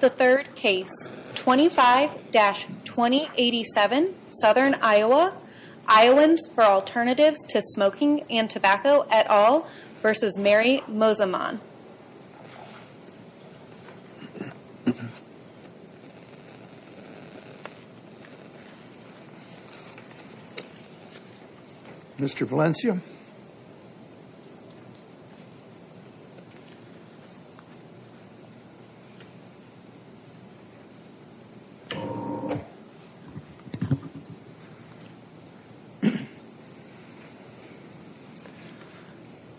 The third case, 25-2087, Southern Iowa, Iowans for Alternatives to Smoking and Tobacco et al. v. Mary Mosiman Mr. Valencia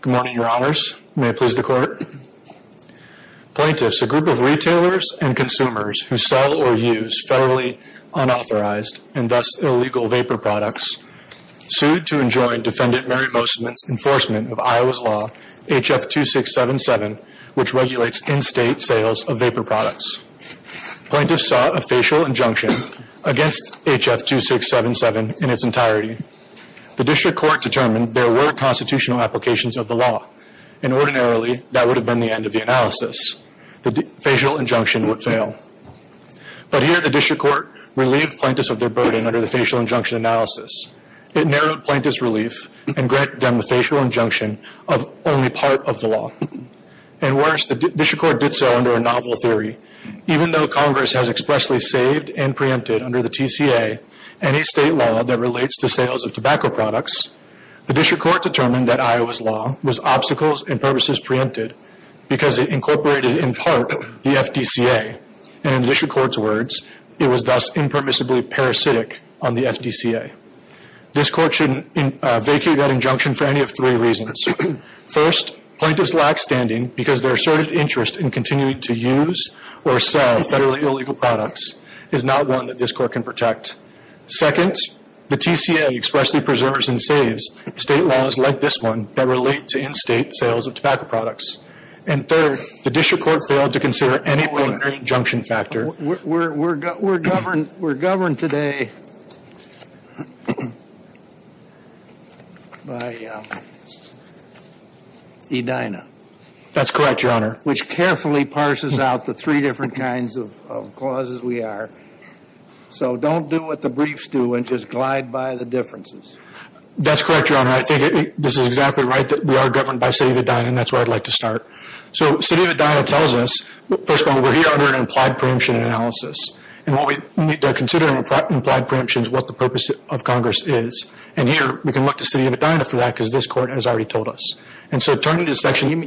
Good morning, Your Honors. May it please the Court? Plaintiffs, a group of retailers and consumers who sell or use federally unauthorized and thus illegal vapor products, sued to enjoin Defendant Mary Mosiman's enforcement of Iowa's law, H.F. 2677, which regulates in-state sales of vapor products. Plaintiffs sought a facial injunction against H.F. 2677 in its entirety. The District Court determined there were constitutional applications of the law, and ordinarily, that would have been the end of the analysis. The facial injunction would fail. But here, the District Court relieved plaintiffs of their burden under the facial injunction analysis. It narrowed plaintiffs' relief and granted them the facial injunction of only part of the law. And worse, the District Court did so under a novel theory. Even though Congress has expressly saved and preempted under the TCA any state law that relates to sales of tobacco products, the District Court determined that Iowa's law was obstacles and purposes preempted because it incorporated in part the FDCA. And in the District Court's words, it was thus impermissibly parasitic on the FDCA. This Court should vacate that injunction for any of three reasons. First, plaintiffs lack standing because their asserted interest in continuing to use or sell federally illegal products is not one that this Court can protect. Second, the TCA expressly preserves and saves state laws like this one that relate to in-state sales of tobacco products. And third, the District Court failed to consider any preliminary injunction factor. We're governed today by Edina. That's correct, Your Honor. Which carefully parses out the three different kinds of clauses we are. So don't do what the briefs do and just glide by the differences. That's correct, Your Honor. I think this is exactly right that we are governed by City of Edina and that's where I'd like to start. So City of Edina tells us, first of all, we're here under an implied preemption analysis. And what we need to consider in implied preemption is what the purpose of Congress is. And here, we can look to City of Edina for that because this Court has already told us. And so turning to this section,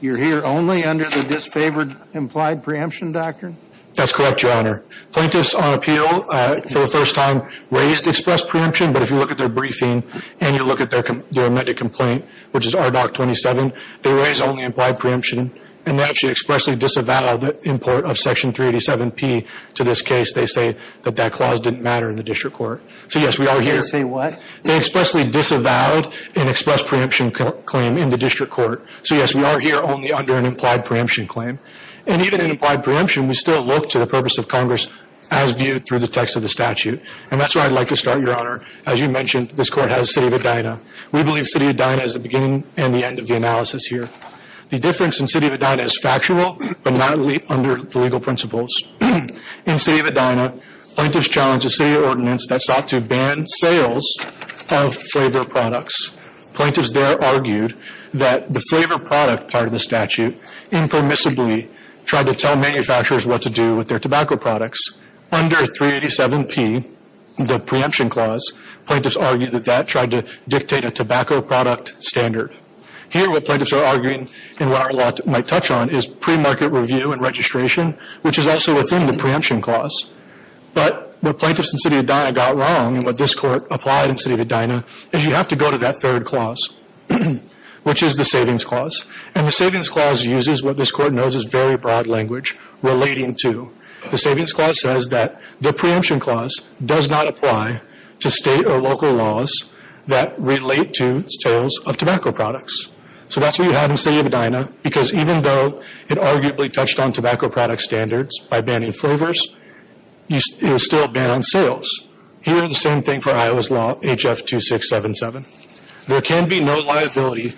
you're here only under the disfavored implied preemption doctrine? That's correct, Your Honor. Plaintiffs on appeal for the first time raised express preemption. But if you look at their briefing and you look at their amended complaint, which is RDoC 27, they raise only implied preemption. And they actually expressly disavowed the import of Section 387P to this case. They say that that clause didn't matter in the district court. So, yes, we are here. They say what? They expressly disavowed an express preemption claim in the district court. So, yes, we are here only under an implied preemption claim. And even in implied preemption, we still look to the purpose of Congress as viewed through the text of the statute. And that's where I'd like to start, Your Honor. As you mentioned, this Court has City of Edina. We believe City of Edina is the beginning and the end of the analysis here. The difference in City of Edina is factual but not under the legal principles. In City of Edina, plaintiffs challenged a city ordinance that sought to ban sales of flavor products. Plaintiffs there argued that the flavor product part of the statute impermissibly tried to tell manufacturers what to do with their tobacco products. Under 387P, the preemption clause, plaintiffs argued that that tried to dictate a tobacco product standard. Here, what plaintiffs are arguing and what our law might touch on is pre-market review and registration, which is also within the preemption clause. But what plaintiffs in City of Edina got wrong and what this Court applied in City of Edina is you have to go to that third clause, which is the savings clause. And the savings clause uses what this Court knows is very broad language relating to the savings clause says that the preemption clause does not apply to state or local laws that relate to sales of tobacco products. So that's what you have in City of Edina, because even though it arguably touched on tobacco product standards by banning flavors, it is still a ban on sales. Here is the same thing for Iowa's law, HF2677. There can be no liability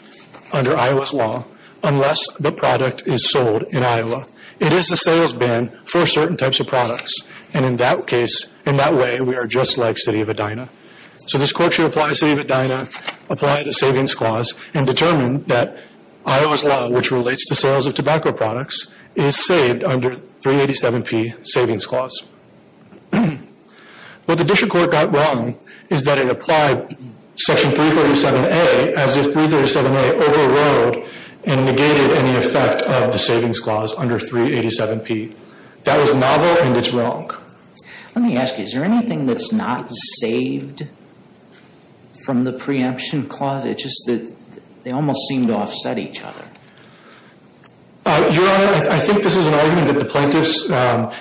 under Iowa's law unless the product is sold in Iowa. It is a sales ban for certain types of products. And in that case, in that way, we are just like City of Edina. So this Court should apply City of Edina, apply the savings clause, and determine that Iowa's law, which relates to sales of tobacco products, is saved under 387P, savings clause. What the district court got wrong is that it applied Section 347A as if 337A overrode and negated any effect of the savings clause under 387P. That was novel, and it's wrong. Let me ask you, is there anything that's not saved from the preemption clause? It's just that they almost seem to offset each other. Your Honor, I think this is an argument that the plaintiffs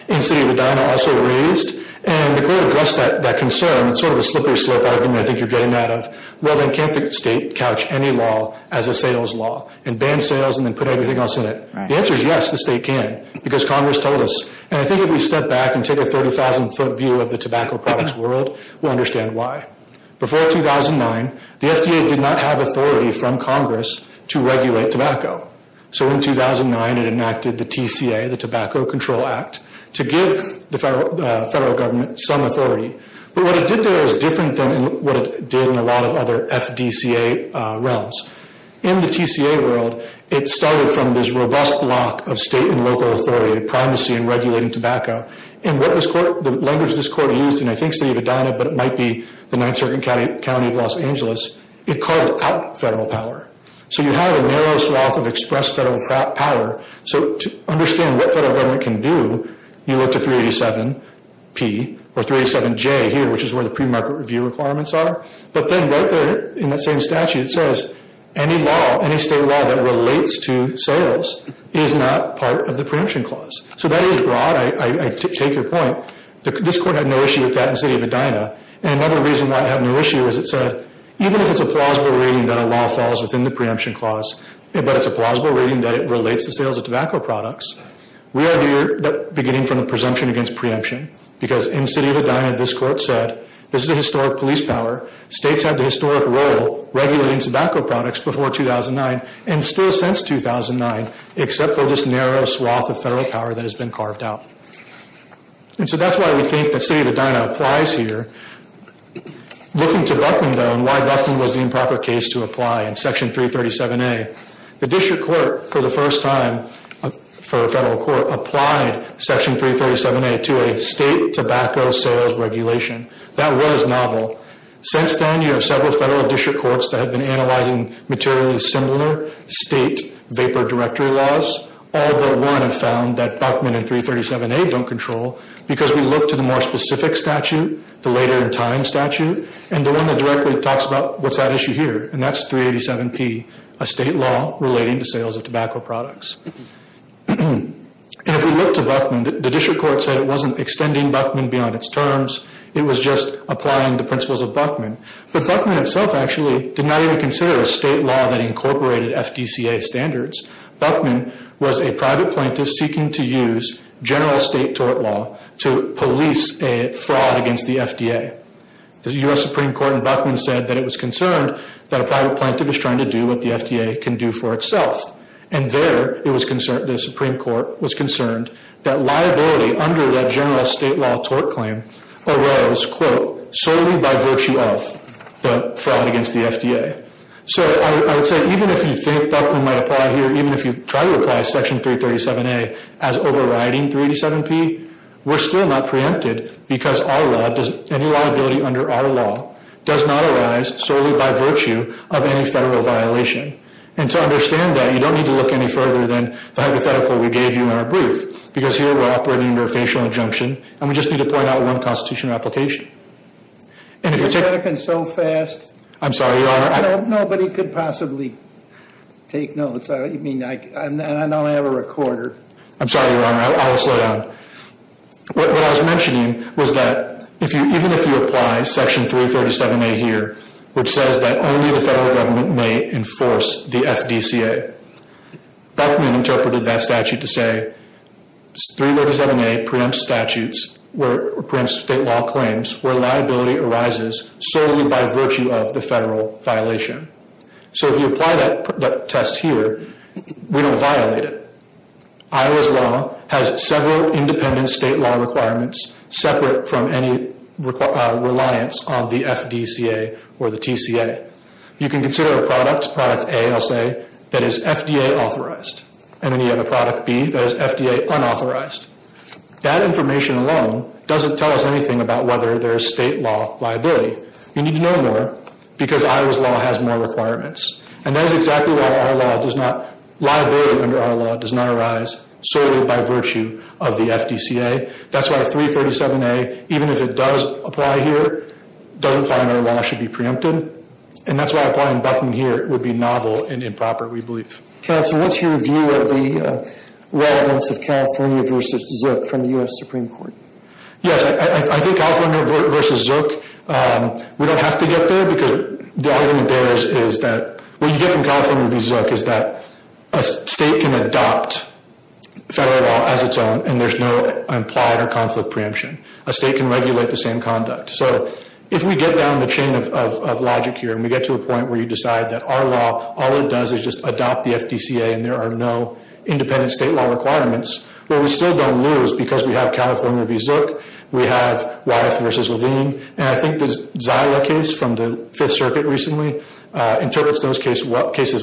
in City of Edina also raised, and the Court addressed that concern. It's sort of a slippery slope argument I think you're getting at of, well, then can't the state couch any law as a sales law and ban sales and then put everything else in it? The answer is yes, the state can, because Congress told us. And I think if we step back and take a 30,000-foot view of the tobacco products world, we'll understand why. Before 2009, the FDA did not have authority from Congress to regulate tobacco. So in 2009, it enacted the TCA, the Tobacco Control Act, to give the federal government some authority. But what it did there was different than what it did in a lot of other FDCA realms. In the TCA world, it started from this robust block of state and local authority, primacy and regulating tobacco. And the language this Court used in, I think, City of Edina, but it might be the 9th Circuit County of Los Angeles, it carved out federal power. So you have a narrow swath of expressed federal power. So to understand what federal government can do, you look to 387P or 387J here, which is where the premarket review requirements are. But then right there in that same statute, it says any law, any state law that relates to sales is not part of the preemption clause. So that is broad. I take your point. This Court had no issue with that in City of Edina. And another reason why it had no issue is it said, even if it's a plausible reading that a law falls within the preemption clause, but it's a plausible reading that it relates to sales of tobacco products, we are here beginning from the presumption against preemption. Because in City of Edina, this Court said, this is a historic police power. States had the historic role regulating tobacco products before 2009 and still since 2009, except for this narrow swath of federal power that has been carved out. And so that's why we think that City of Edina applies here. Looking to Buckman, though, and why Buckman was the improper case to apply in Section 337A, the district court, for the first time for a federal court, applied Section 337A to a state tobacco sales regulation. That was novel. Since then, you have several federal district courts that have been analyzing materially similar state vapor directory laws. All but one have found that Buckman and 337A don't control because we look to the more specific statute, the later in time statute, and the one that directly talks about what's at issue here, and that's 387P. A state law relating to sales of tobacco products. And if we look to Buckman, the district court said it wasn't extending Buckman beyond its terms. It was just applying the principles of Buckman. But Buckman itself actually did not even consider a state law that incorporated FDCA standards. Buckman was a private plaintiff seeking to use general state tort law to police a fraud against the FDA. The U.S. Supreme Court in Buckman said that it was concerned that a private plaintiff was trying to do what the FDA can do for itself. And there, the Supreme Court was concerned that liability under that general state law tort claim arose, quote, solely by virtue of the fraud against the FDA. So I would say even if you think Buckman might apply here, even if you try to apply Section 337A as overriding 387P, we're still not preempted because our law, any liability under our law, does not arise solely by virtue of any federal violation. And to understand that, you don't need to look any further than the hypothetical we gave you in our brief, because here we're operating under a facial injunction, and we just need to point out one constitutional application. And if you take... You're talking so fast. I'm sorry, Your Honor. Nobody could possibly take notes. I mean, I don't have a recorder. I'm sorry, Your Honor. I will slow down. What I was mentioning was that even if you apply Section 337A here, which says that only the federal government may enforce the FDCA, Buckman interpreted that statute to say 337A preempts statutes, preempts state law claims where liability arises solely by virtue of the federal violation. So if you apply that test here, we don't violate it. Iowa's law has several independent state law requirements separate from any reliance on the FDCA or the TCA. You can consider a product, product A, I'll say, that is FDA authorized, and then you have a product B that is FDA unauthorized. That information alone doesn't tell us anything about whether there is state law liability. You need to know more because Iowa's law has more requirements. And that is exactly why our law does not, liability under our law does not arise solely by virtue of the FDCA. That's why 337A, even if it does apply here, doesn't find our law should be preempted. And that's why applying Buckman here would be novel and improper, we believe. Counsel, what's your view of the relevance of California v. Zook from the U.S. Supreme Court? Yes, I think California v. Zook, we don't have to get there because the argument there is that what you get from California v. Zook is that a state can adopt federal law as its own and there's no implied or conflict preemption. A state can regulate the same conduct. So if we get down the chain of logic here and we get to a point where you decide that our law, all it does is just adopt the FDCA and there are no independent state law requirements, well, we still don't lose because we have California v. Zook, we have Wyeth v. Levine, and I think the Zyla case from the Fifth Circuit recently interprets those cases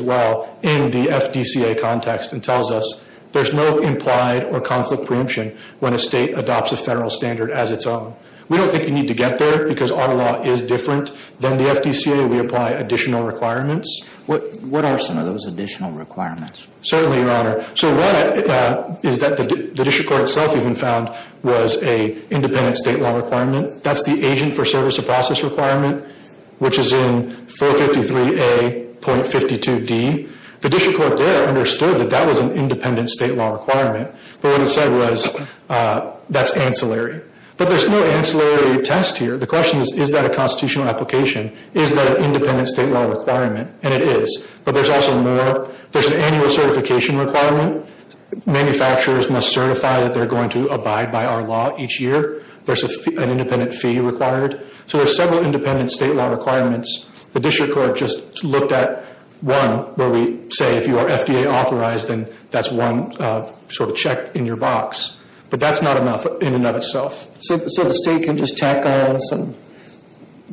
well in the FDCA context and tells us there's no implied or conflict preemption when a state adopts a federal standard as its own. We don't think you need to get there because our law is different than the FDCA. We apply additional requirements. What are some of those additional requirements? Certainly, Your Honor. So one is that the district court itself even found was an independent state law requirement. That's the agent for service of process requirement, which is in 453A.52d. The district court there understood that that was an independent state law requirement, but what it said was that's ancillary. But there's no ancillary test here. The question is, is that a constitutional application? Is that an independent state law requirement? And it is. But there's also more. There's an annual certification requirement. Manufacturers must certify that they're going to abide by our law each year. There's an independent fee required. So there's several independent state law requirements. The district court just looked at one where we say if you are FDA authorized, then that's one sort of check in your box. But that's not enough in and of itself. So the state can just tack on some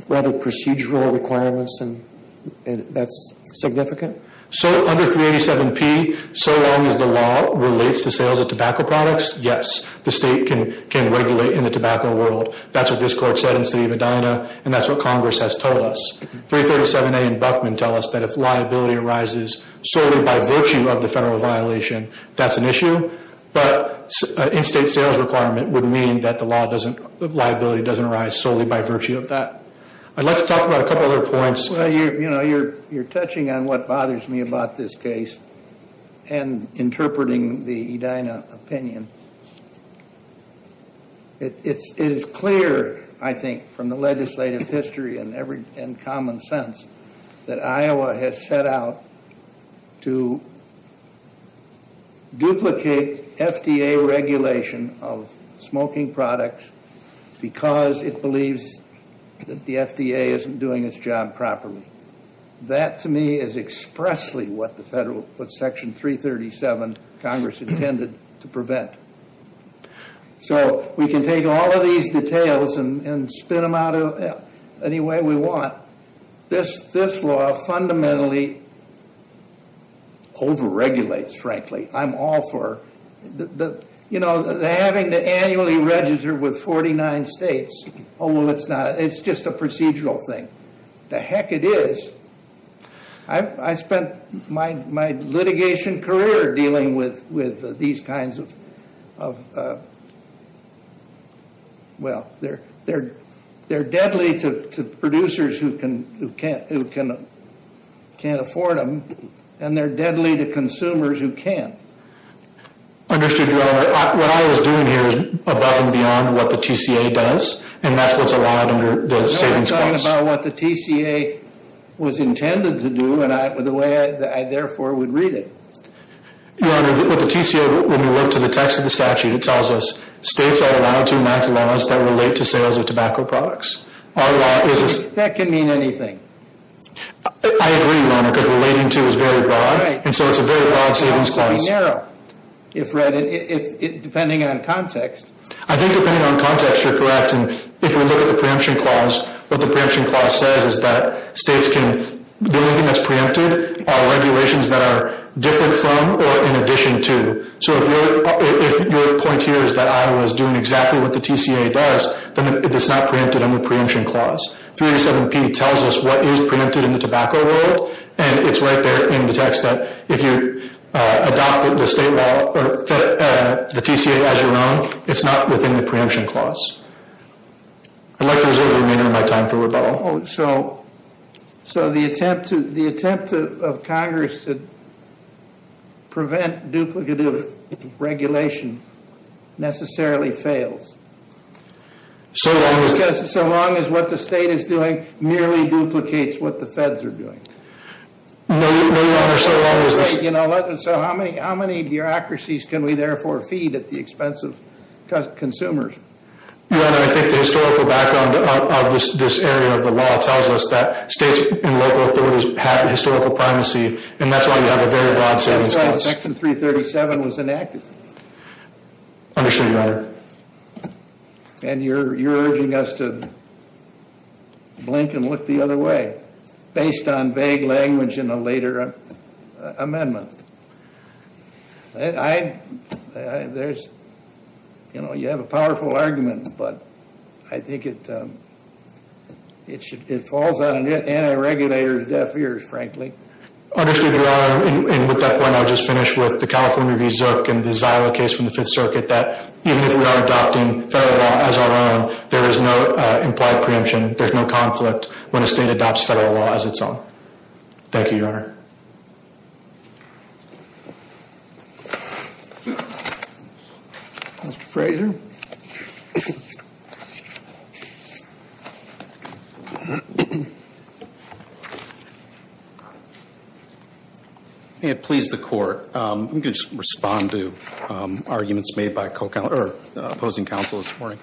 rather procedural requirements and that's significant? So under 387P, so long as the law relates to sales of tobacco products, yes. The state can regulate in the tobacco world. That's what this court said in the city of Edina, and that's what Congress has told us. 337A and Buckman tell us that if liability arises solely by virtue of the federal violation, that's an issue. But an in-state sales requirement would mean that the liability doesn't arise solely by virtue of that. Let's talk about a couple other points. You're touching on what bothers me about this case and interpreting the Edina opinion. It is clear, I think, from the legislative history and common sense, that Iowa has set out to duplicate FDA regulation of smoking products because it believes that the FDA isn't doing its job properly. That, to me, is expressly what Section 337 Congress intended to prevent. So we can take all of these details and spin them out any way we want. This law fundamentally over-regulates, frankly. I'm all for having to annually register with 49 states. Oh, well, it's not. It's just a procedural thing. The heck it is. I spent my litigation career dealing with these kinds of, well, they're deadly to producers who can't afford them, and they're deadly to consumers who can. Understood, Your Honor. What I was doing here is above and beyond what the TCA does, and that's what's allowed under the savings clause. No, I'm talking about what the TCA was intended to do and the way I, therefore, would read it. Your Honor, what the TCA, when we look to the text of the statute, it tells us, states are allowed to enact laws that relate to sales of tobacco products. That can mean anything. I agree, Your Honor, because relating to is very broad, and so it's a very broad savings clause. It has to be narrow, depending on context. I think depending on context, you're correct. If we look at the preemption clause, what the preemption clause says is that states can, the only thing that's preempted are regulations that are different from or in addition to. So if your point here is that Iowa is doing exactly what the TCA does, then it's not preempted under the preemption clause. 387P tells us what is preempted in the tobacco world, and it's right there in the text that if you adopt the state law or the TCA as your own, it's not within the preemption clause. I'd like to reserve the remainder of my time for rebuttal. So the attempt of Congress to prevent duplicative regulation necessarily fails? So long as what the state is doing merely duplicates what the feds are doing? No, Your Honor. So how many bureaucracies can we therefore feed at the expense of consumers? Your Honor, I think the historical background of this area of the law tells us that states and local authorities have historical primacy, and that's why we have a very broad savings clause. Section 337 was enacted. Understood, Your Honor. And you're urging us to blink and look the other way based on vague language in a later amendment. You have a powerful argument, but I think it falls on an anti-regulator's deaf ears, frankly. Understood, Your Honor. And with that point, I'll just finish with the California v. Zook and the Zila case from the Fifth Circuit, that even if we are adopting federal law as our own, there is no implied preemption, there's no conflict when a state adopts federal law as its own. Thank you, Your Honor. Mr. Fraser? May it please the Court. I'm going to just respond to arguments made by opposing counsel this morning.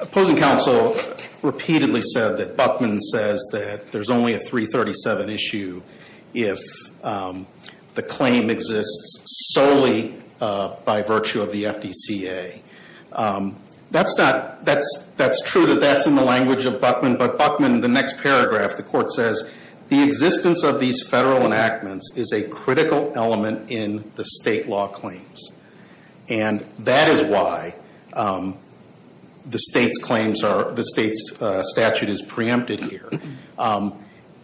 Opposing counsel repeatedly said that Buckman says that there's only a 337 issue if the claim exists solely by virtue of the FDCA. That's true that that's in the language of Buckman, but Buckman, in the next paragraph, the Court says, the existence of these federal enactments is a critical element in the state law claims, and that is why the state's statute is preempted here.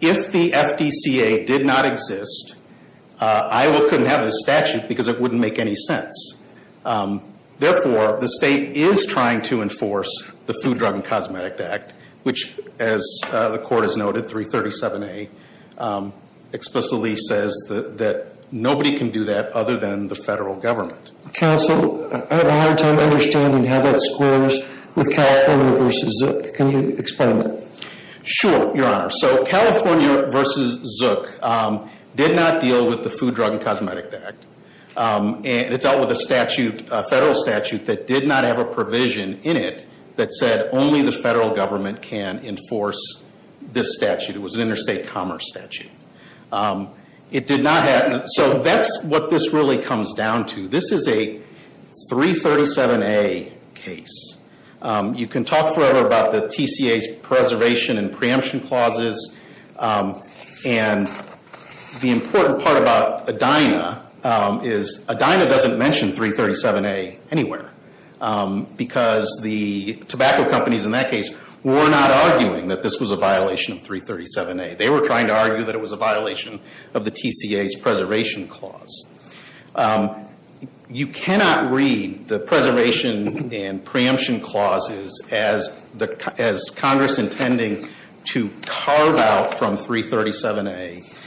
If the FDCA did not exist, Iowa couldn't have this statute because it wouldn't make any sense. Therefore, the state is trying to enforce the Food, Drug, and Cosmetic Act, which, as the Court has noted, 337A explicitly says that nobody can do that other than the federal government. Counsel, I have a hard time understanding how that squares with California v. Zook. Can you explain that? Sure, Your Honor. So, California v. Zook did not deal with the Food, Drug, and Cosmetic Act. It dealt with a federal statute that did not have a provision in it that said only the federal government can enforce this statute. It was an interstate commerce statute. It did not have, so that's what this really comes down to. This is a 337A case. You can talk forever about the TCA's preservation and preemption clauses, and the important part about Edina is Edina doesn't mention 337A anywhere because the tobacco companies in that case were not arguing that this was a violation of 337A. They were trying to argue that it was a violation of the TCA's preservation clause. You cannot read the preservation and preemption clauses as Congress intending to carve out from 337A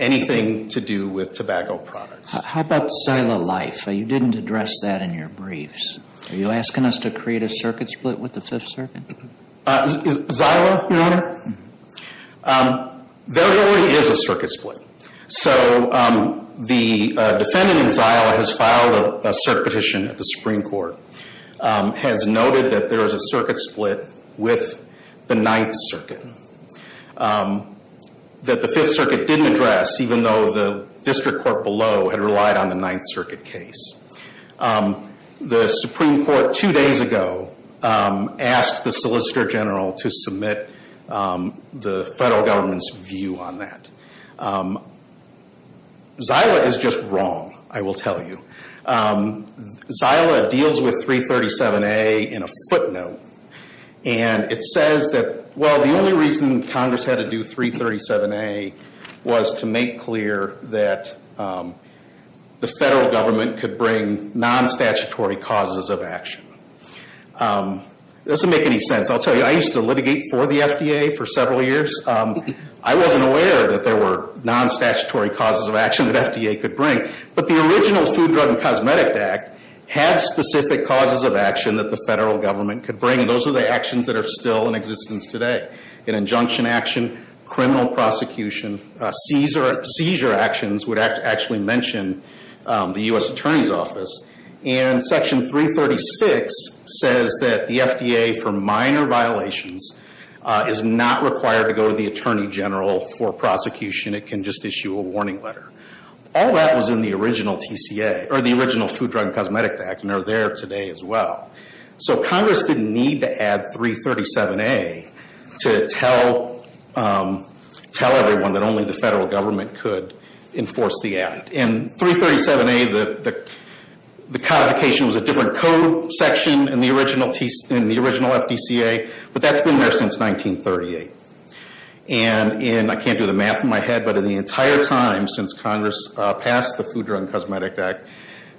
anything to do with tobacco products. How about Zyla Life? You didn't address that in your briefs. Are you asking us to create a circuit split with the Fifth Circuit? Zyla? There already is a circuit split. The defendant in Zyla has filed a cert petition at the Supreme Court, has noted that there is a circuit split with the Ninth Circuit that the Fifth Circuit didn't address, even though the district court below had relied on the Ninth Circuit case. The Supreme Court two days ago asked the Solicitor General to submit the federal government's view on that. Zyla is just wrong, I will tell you. Zyla deals with 337A in a footnote, and it says that, well, the only reason Congress had to do 337A was to make clear that the federal government could bring non-statutory causes of action. It doesn't make any sense. I'll tell you, I used to litigate for the FDA for several years. I wasn't aware that there were non-statutory causes of action that FDA could bring. But the original Food, Drug, and Cosmetic Act had specific causes of action that the federal government could bring, and those are the actions that are still in existence today. An injunction action, criminal prosecution, seizure actions would actually mention the U.S. Attorney's Office. And Section 336 says that the FDA, for minor violations, is not required to go to the Attorney General for prosecution. It can just issue a warning letter. All that was in the original TCA, or the original Food, Drug, and Cosmetic Act, and they're there today as well. So Congress didn't need to add 337A to tell everyone that only the federal government could enforce the act. And 337A, the codification was a different code section in the original FDCA, but that's been there since 1938. And I can't do the math in my head, but in the entire time since Congress passed the Food, Drug, and Cosmetic Act,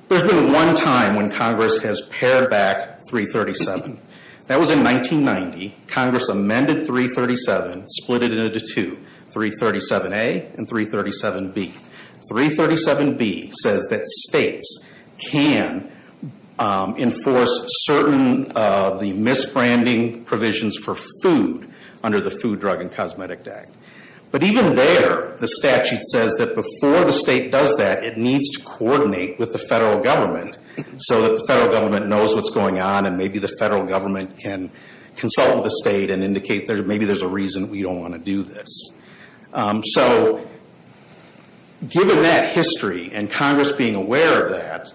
there's been one time when Congress has pared back 337. That was in 1990. Congress amended 337, split it into two, 337A and 337B. 337B says that states can enforce certain of the misbranding provisions for food under the Food, Drug, and Cosmetic Act. But even there, the statute says that before the state does that, it needs to coordinate with the federal government so that the federal government knows what's going on and maybe the federal government can consult with the state and indicate maybe there's a reason we don't want to do this. So given that history and Congress being aware of that,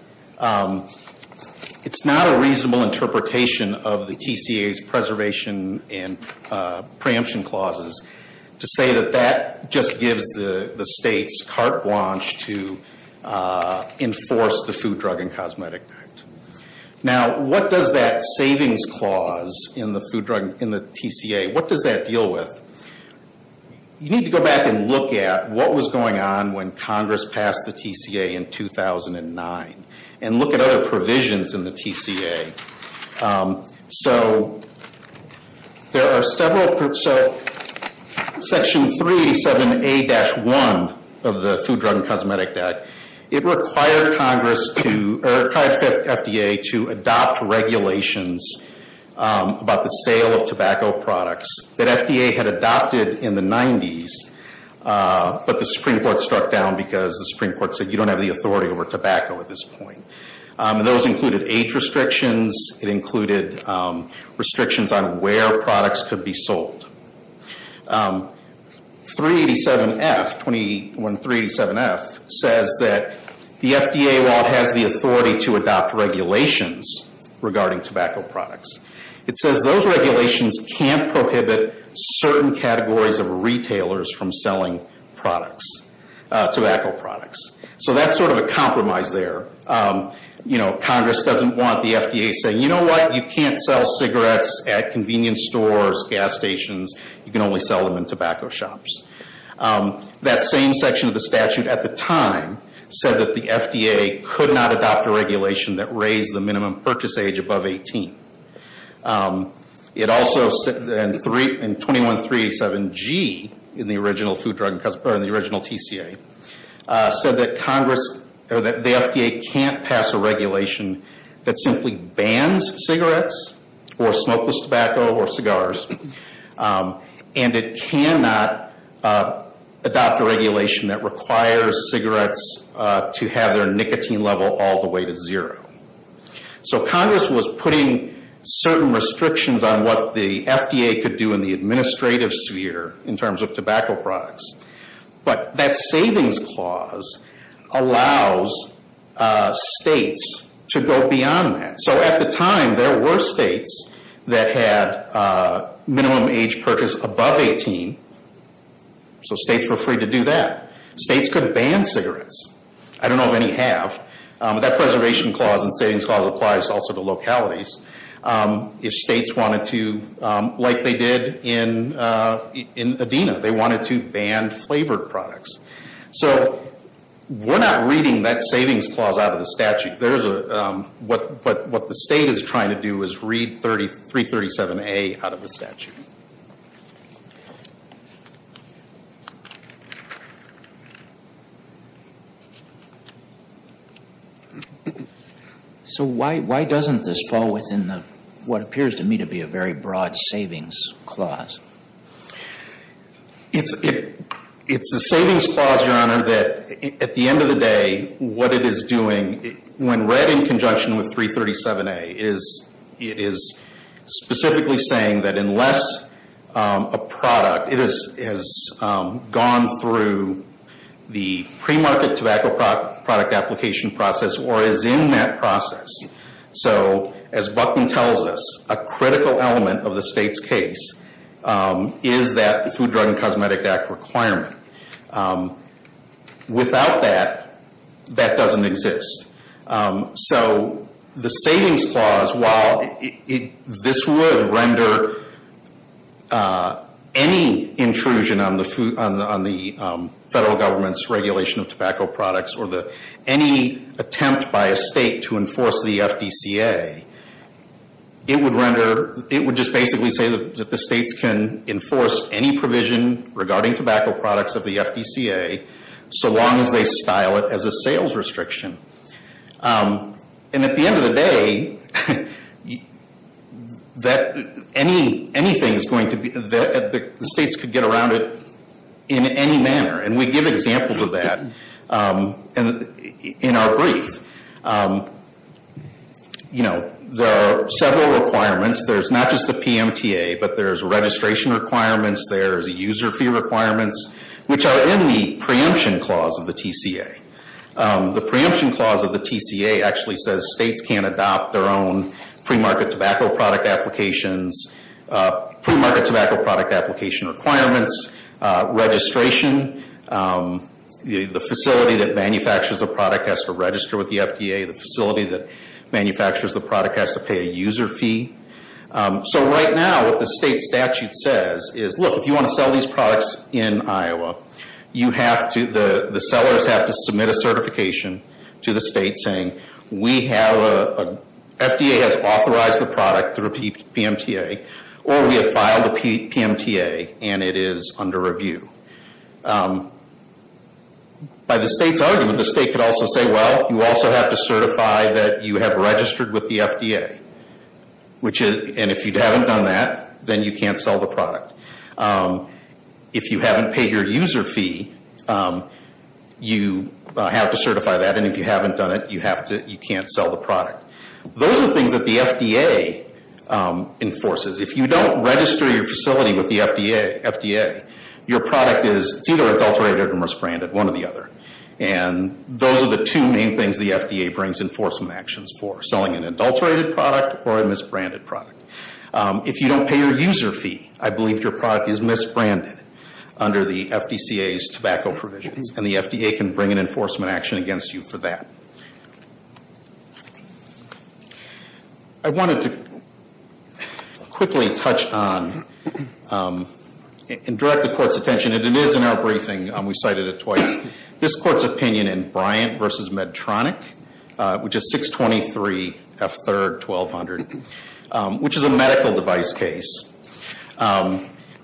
it's not a reasonable interpretation of the TCA's preservation and preemption clauses to say that that just gives the states carte blanche to enforce the Food, Drug, and Cosmetic Act. Now, what does that savings clause in the TCA, what does that deal with? You need to go back and look at what was going on when Congress passed the TCA in 2009 and look at other provisions in the TCA. So there are several, so Section 387A-1 of the Food, Drug, and Cosmetic Act, it required Congress to, or it required FDA to adopt regulations about the sale of tobacco products that FDA had adopted in the 90s, but the Supreme Court struck down because the Supreme Court said you don't have the authority over tobacco at this point. And those included age restrictions. It included restrictions on where products could be sold. 387F, 21-387F, says that the FDA, while it has the authority to adopt regulations regarding tobacco products, it says those regulations can't prohibit certain categories of retailers from selling products, tobacco products. So that's sort of a compromise there. You know, Congress doesn't want the FDA saying, you know what, you can't sell cigarettes at convenience stores, gas stations, you can only sell them in tobacco shops. That same section of the statute at the time said that the FDA could not adopt a regulation that raised the minimum purchase age above 18. It also, in 21-387G, in the original TCA, said that Congress, or that the FDA can't pass a regulation that simply bans cigarettes or smokeless tobacco or cigars, and it cannot adopt a regulation that requires cigarettes to have their nicotine level all the way to zero. So Congress was putting certain restrictions on what the FDA could do in the administrative sphere in terms of tobacco products. But that savings clause allows states to go beyond that. So at the time, there were states that had minimum age purchase above 18. So states were free to do that. States could ban cigarettes. I don't know if any have. That preservation clause and savings clause applies also to localities. If states wanted to, like they did in Adena, they wanted to ban flavored products. So we're not reading that savings clause out of the statute. But what the state is trying to do is read 337A out of the statute. So why doesn't this fall within what appears to me to be a very broad savings clause? It's a savings clause, Your Honor, that at the end of the day, what it is doing, when read in conjunction with 337A, it is specifically saying that unless a product, it has gone through the premarket tobacco product application process or is in that process. So as Buckman tells us, a critical element of the state's case is that the Food, Drug, and Cosmetic Act requirement. Without that, that doesn't exist. So the savings clause, while this would render any intrusion on the federal government's regulation of tobacco products or any attempt by a state to enforce the FDCA, it would render, it would just basically say that the states can enforce any provision regarding tobacco products of the FDCA, so long as they style it as a sales restriction. And at the end of the day, anything is going to be, the states could get around it in any manner. And we give examples of that in our brief. There are several requirements. There's not just the PMTA, but there's registration requirements, there's user fee requirements, which are in the preemption clause of the TCA. The preemption clause of the TCA actually says states can adopt their own premarket tobacco product applications, premarket tobacco product application requirements, registration, the facility that manufactures the product has to register with the FDA, the facility that manufactures the product has to pay a user fee. So right now, what the state statute says is, look, if you want to sell these products in Iowa, you have to, the sellers have to submit a certification to the state saying, we have a, FDA has authorized the product through a PMTA, or we have filed a PMTA and it is under review. By the state's argument, the state could also say, well, you also have to certify that you have registered with the FDA. And if you haven't done that, then you can't sell the product. If you haven't paid your user fee, you have to certify that, and if you haven't done it, you have to, you can't sell the product. Those are things that the FDA enforces. If you don't register your facility with the FDA, your product is, it's either adulterated or misbranded, one or the other. And those are the two main things the FDA brings enforcement actions for, selling an adulterated product or a misbranded product. If you don't pay your user fee, I believe your product is misbranded under the FDCA's tobacco provisions, and the FDA can bring an enforcement action against you for that. I wanted to quickly touch on, and direct the court's attention, and it is in our briefing. We cited it twice. This court's opinion in Bryant v. Medtronic, which is 623 F3rd 1200, which is a medical device case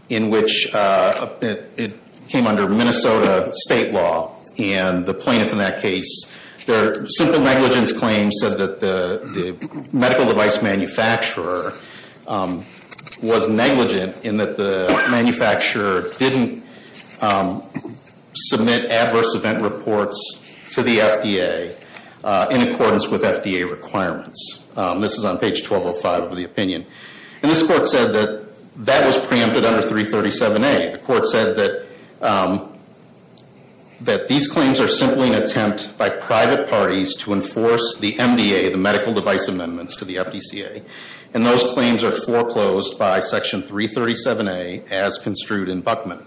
in which it came under Minnesota state law, and the plaintiff in that case, their simple negligence claim said that the medical device manufacturer was negligent in that the manufacturer didn't submit adverse event reports to the FDA in accordance with FDA requirements. This is on page 1205 of the opinion. And this court said that that was preempted under 337A. The court said that these claims are simply an attempt by private parties to enforce the MDA, the medical device amendments to the FDCA. And those claims are foreclosed by section 337A as construed in Buckman.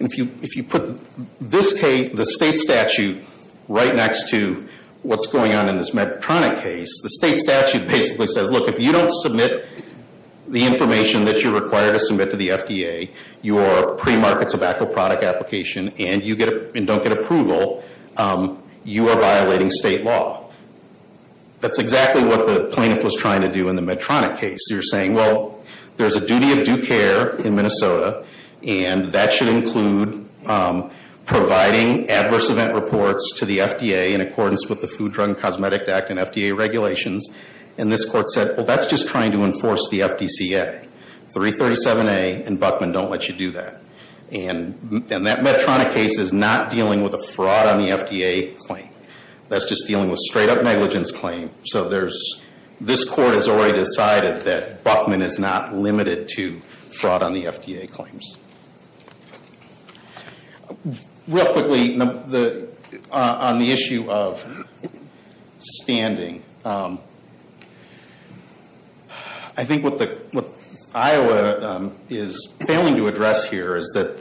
If you put the state statute right next to what's going on in this Medtronic case, the state statute basically says, look, if you don't submit the information that you're required to submit to the FDA, your pre-market tobacco product application, and you don't get approval, you are violating state law. That's exactly what the plaintiff was trying to do in the Medtronic case. You're saying, well, there's a duty of due care in Minnesota, and that should include providing adverse event reports to the FDA in accordance with the Food, Drug, and Cosmetic Act and FDA regulations. And this court said, well, that's just trying to enforce the FDCA. 337A and Buckman don't let you do that. And that Medtronic case is not dealing with a fraud on the FDA claim. That's just dealing with straight-up negligence claim. So this court has already decided that Buckman is not limited to fraud on the FDA claims. Real quickly, on the issue of standing, I think what Iowa is failing to address here is that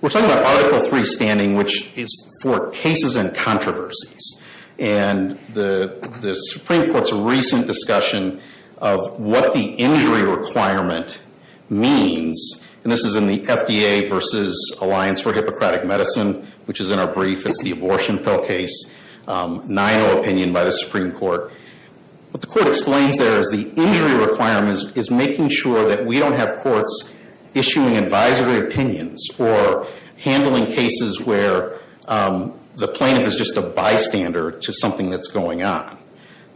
we're talking about Article III standing, which is for cases and controversies. And the Supreme Court's recent discussion of what the injury requirement means, and this is in the FDA versus Alliance for Hippocratic Medicine, which is in our brief. It's the abortion pill case, 9-0 opinion by the Supreme Court. What the court explains there is the injury requirement is making sure that we don't have courts issuing advisory opinions or handling cases where the plaintiff is just a bystander to something that's going on.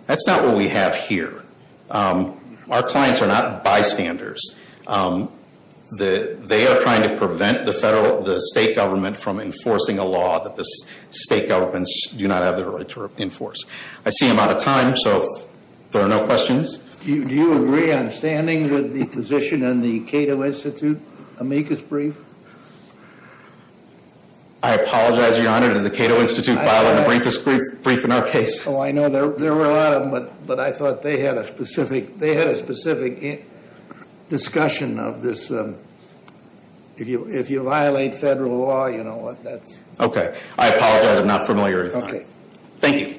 That's not what we have here. Our clients are not bystanders. They are trying to prevent the state government from enforcing a law that the state governments do not have the right to enforce. I see I'm out of time, so if there are no questions. Do you agree on standing the position in the Cato Institute amicus brief? I apologize, Your Honor, did the Cato Institute file an amicus brief in our case? Oh, I know there were a lot of them, but I thought they had a specific discussion of this. If you violate federal law, you know what, that's... Okay, I apologize, I'm not familiar with that. Thank you. Is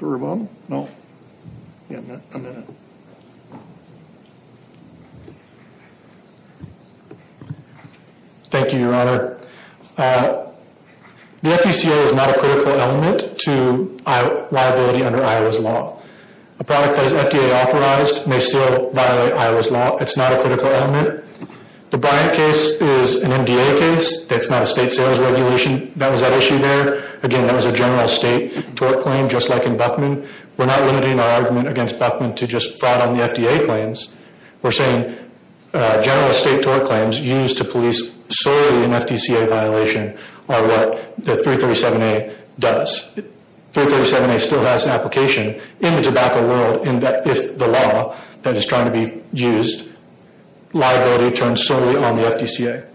there a problem? No? Yeah, a minute. Thank you, Your Honor. The FDCA is not a critical element to liability under Iowa's law. A product that is FDA authorized may still violate Iowa's law. It's not a critical element. The Bryant case is an NDA case. That's not a state sales regulation that was at issue there. Again, that was a general state tort claim, just like in Buckman. We're not limiting our argument against Buckman to just fraud on the FDA claims. We're saying general state tort claims used to police solely an FDCA violation are what the 337A does. 337A still has an application in the tobacco world in that if the law that is trying to be used, liability turns solely on the FDCA.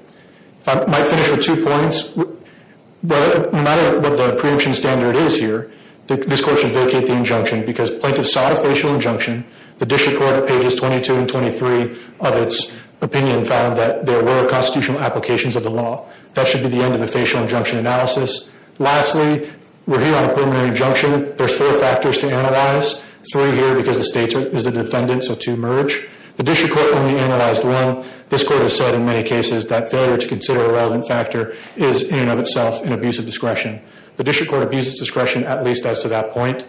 I might finish with two points. No matter what the preemption standard is here, this court should vacate the injunction because plaintiffs sought a facial injunction. The district court at pages 22 and 23 of its opinion found that there were constitutional applications of the law. That should be the end of the facial injunction analysis. Lastly, we're here on a preliminary injunction. There's four factors to analyze. Three here because the state is the defendant, so two merge. The district court only analyzed one. This court has said in many cases that failure to consider a relevant factor is in and of itself an abuse of discretion. The district court abuses discretion at least as to that point.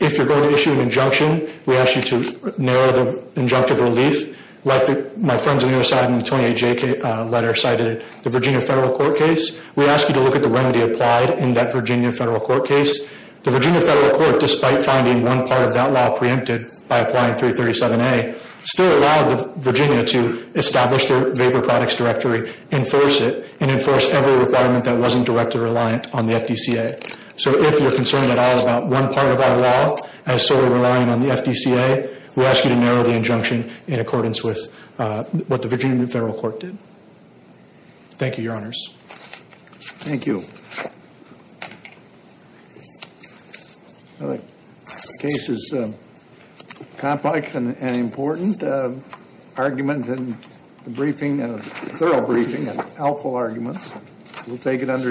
If you're going to issue an injunction, we ask you to narrow the injunctive relief. Like my friends on the other side in the 28J letter cited, the Virginia federal court case, we ask you to look at the remedy applied in that Virginia federal court case. The Virginia federal court, despite finding one part of that law preempted by applying 337A, still allowed Virginia to establish their vapor products directory, enforce it, and enforce every requirement that wasn't directly reliant on the FDCA. So if you're concerned at all about one part of our law as solely relying on the FDCA, we ask you to narrow the injunction in accordance with what the Virginia federal court did. Thank you, Your Honors. Thank you. The case is complex and important. Argument in the briefing, a thorough briefing, and helpful arguments. We'll take it under advisement.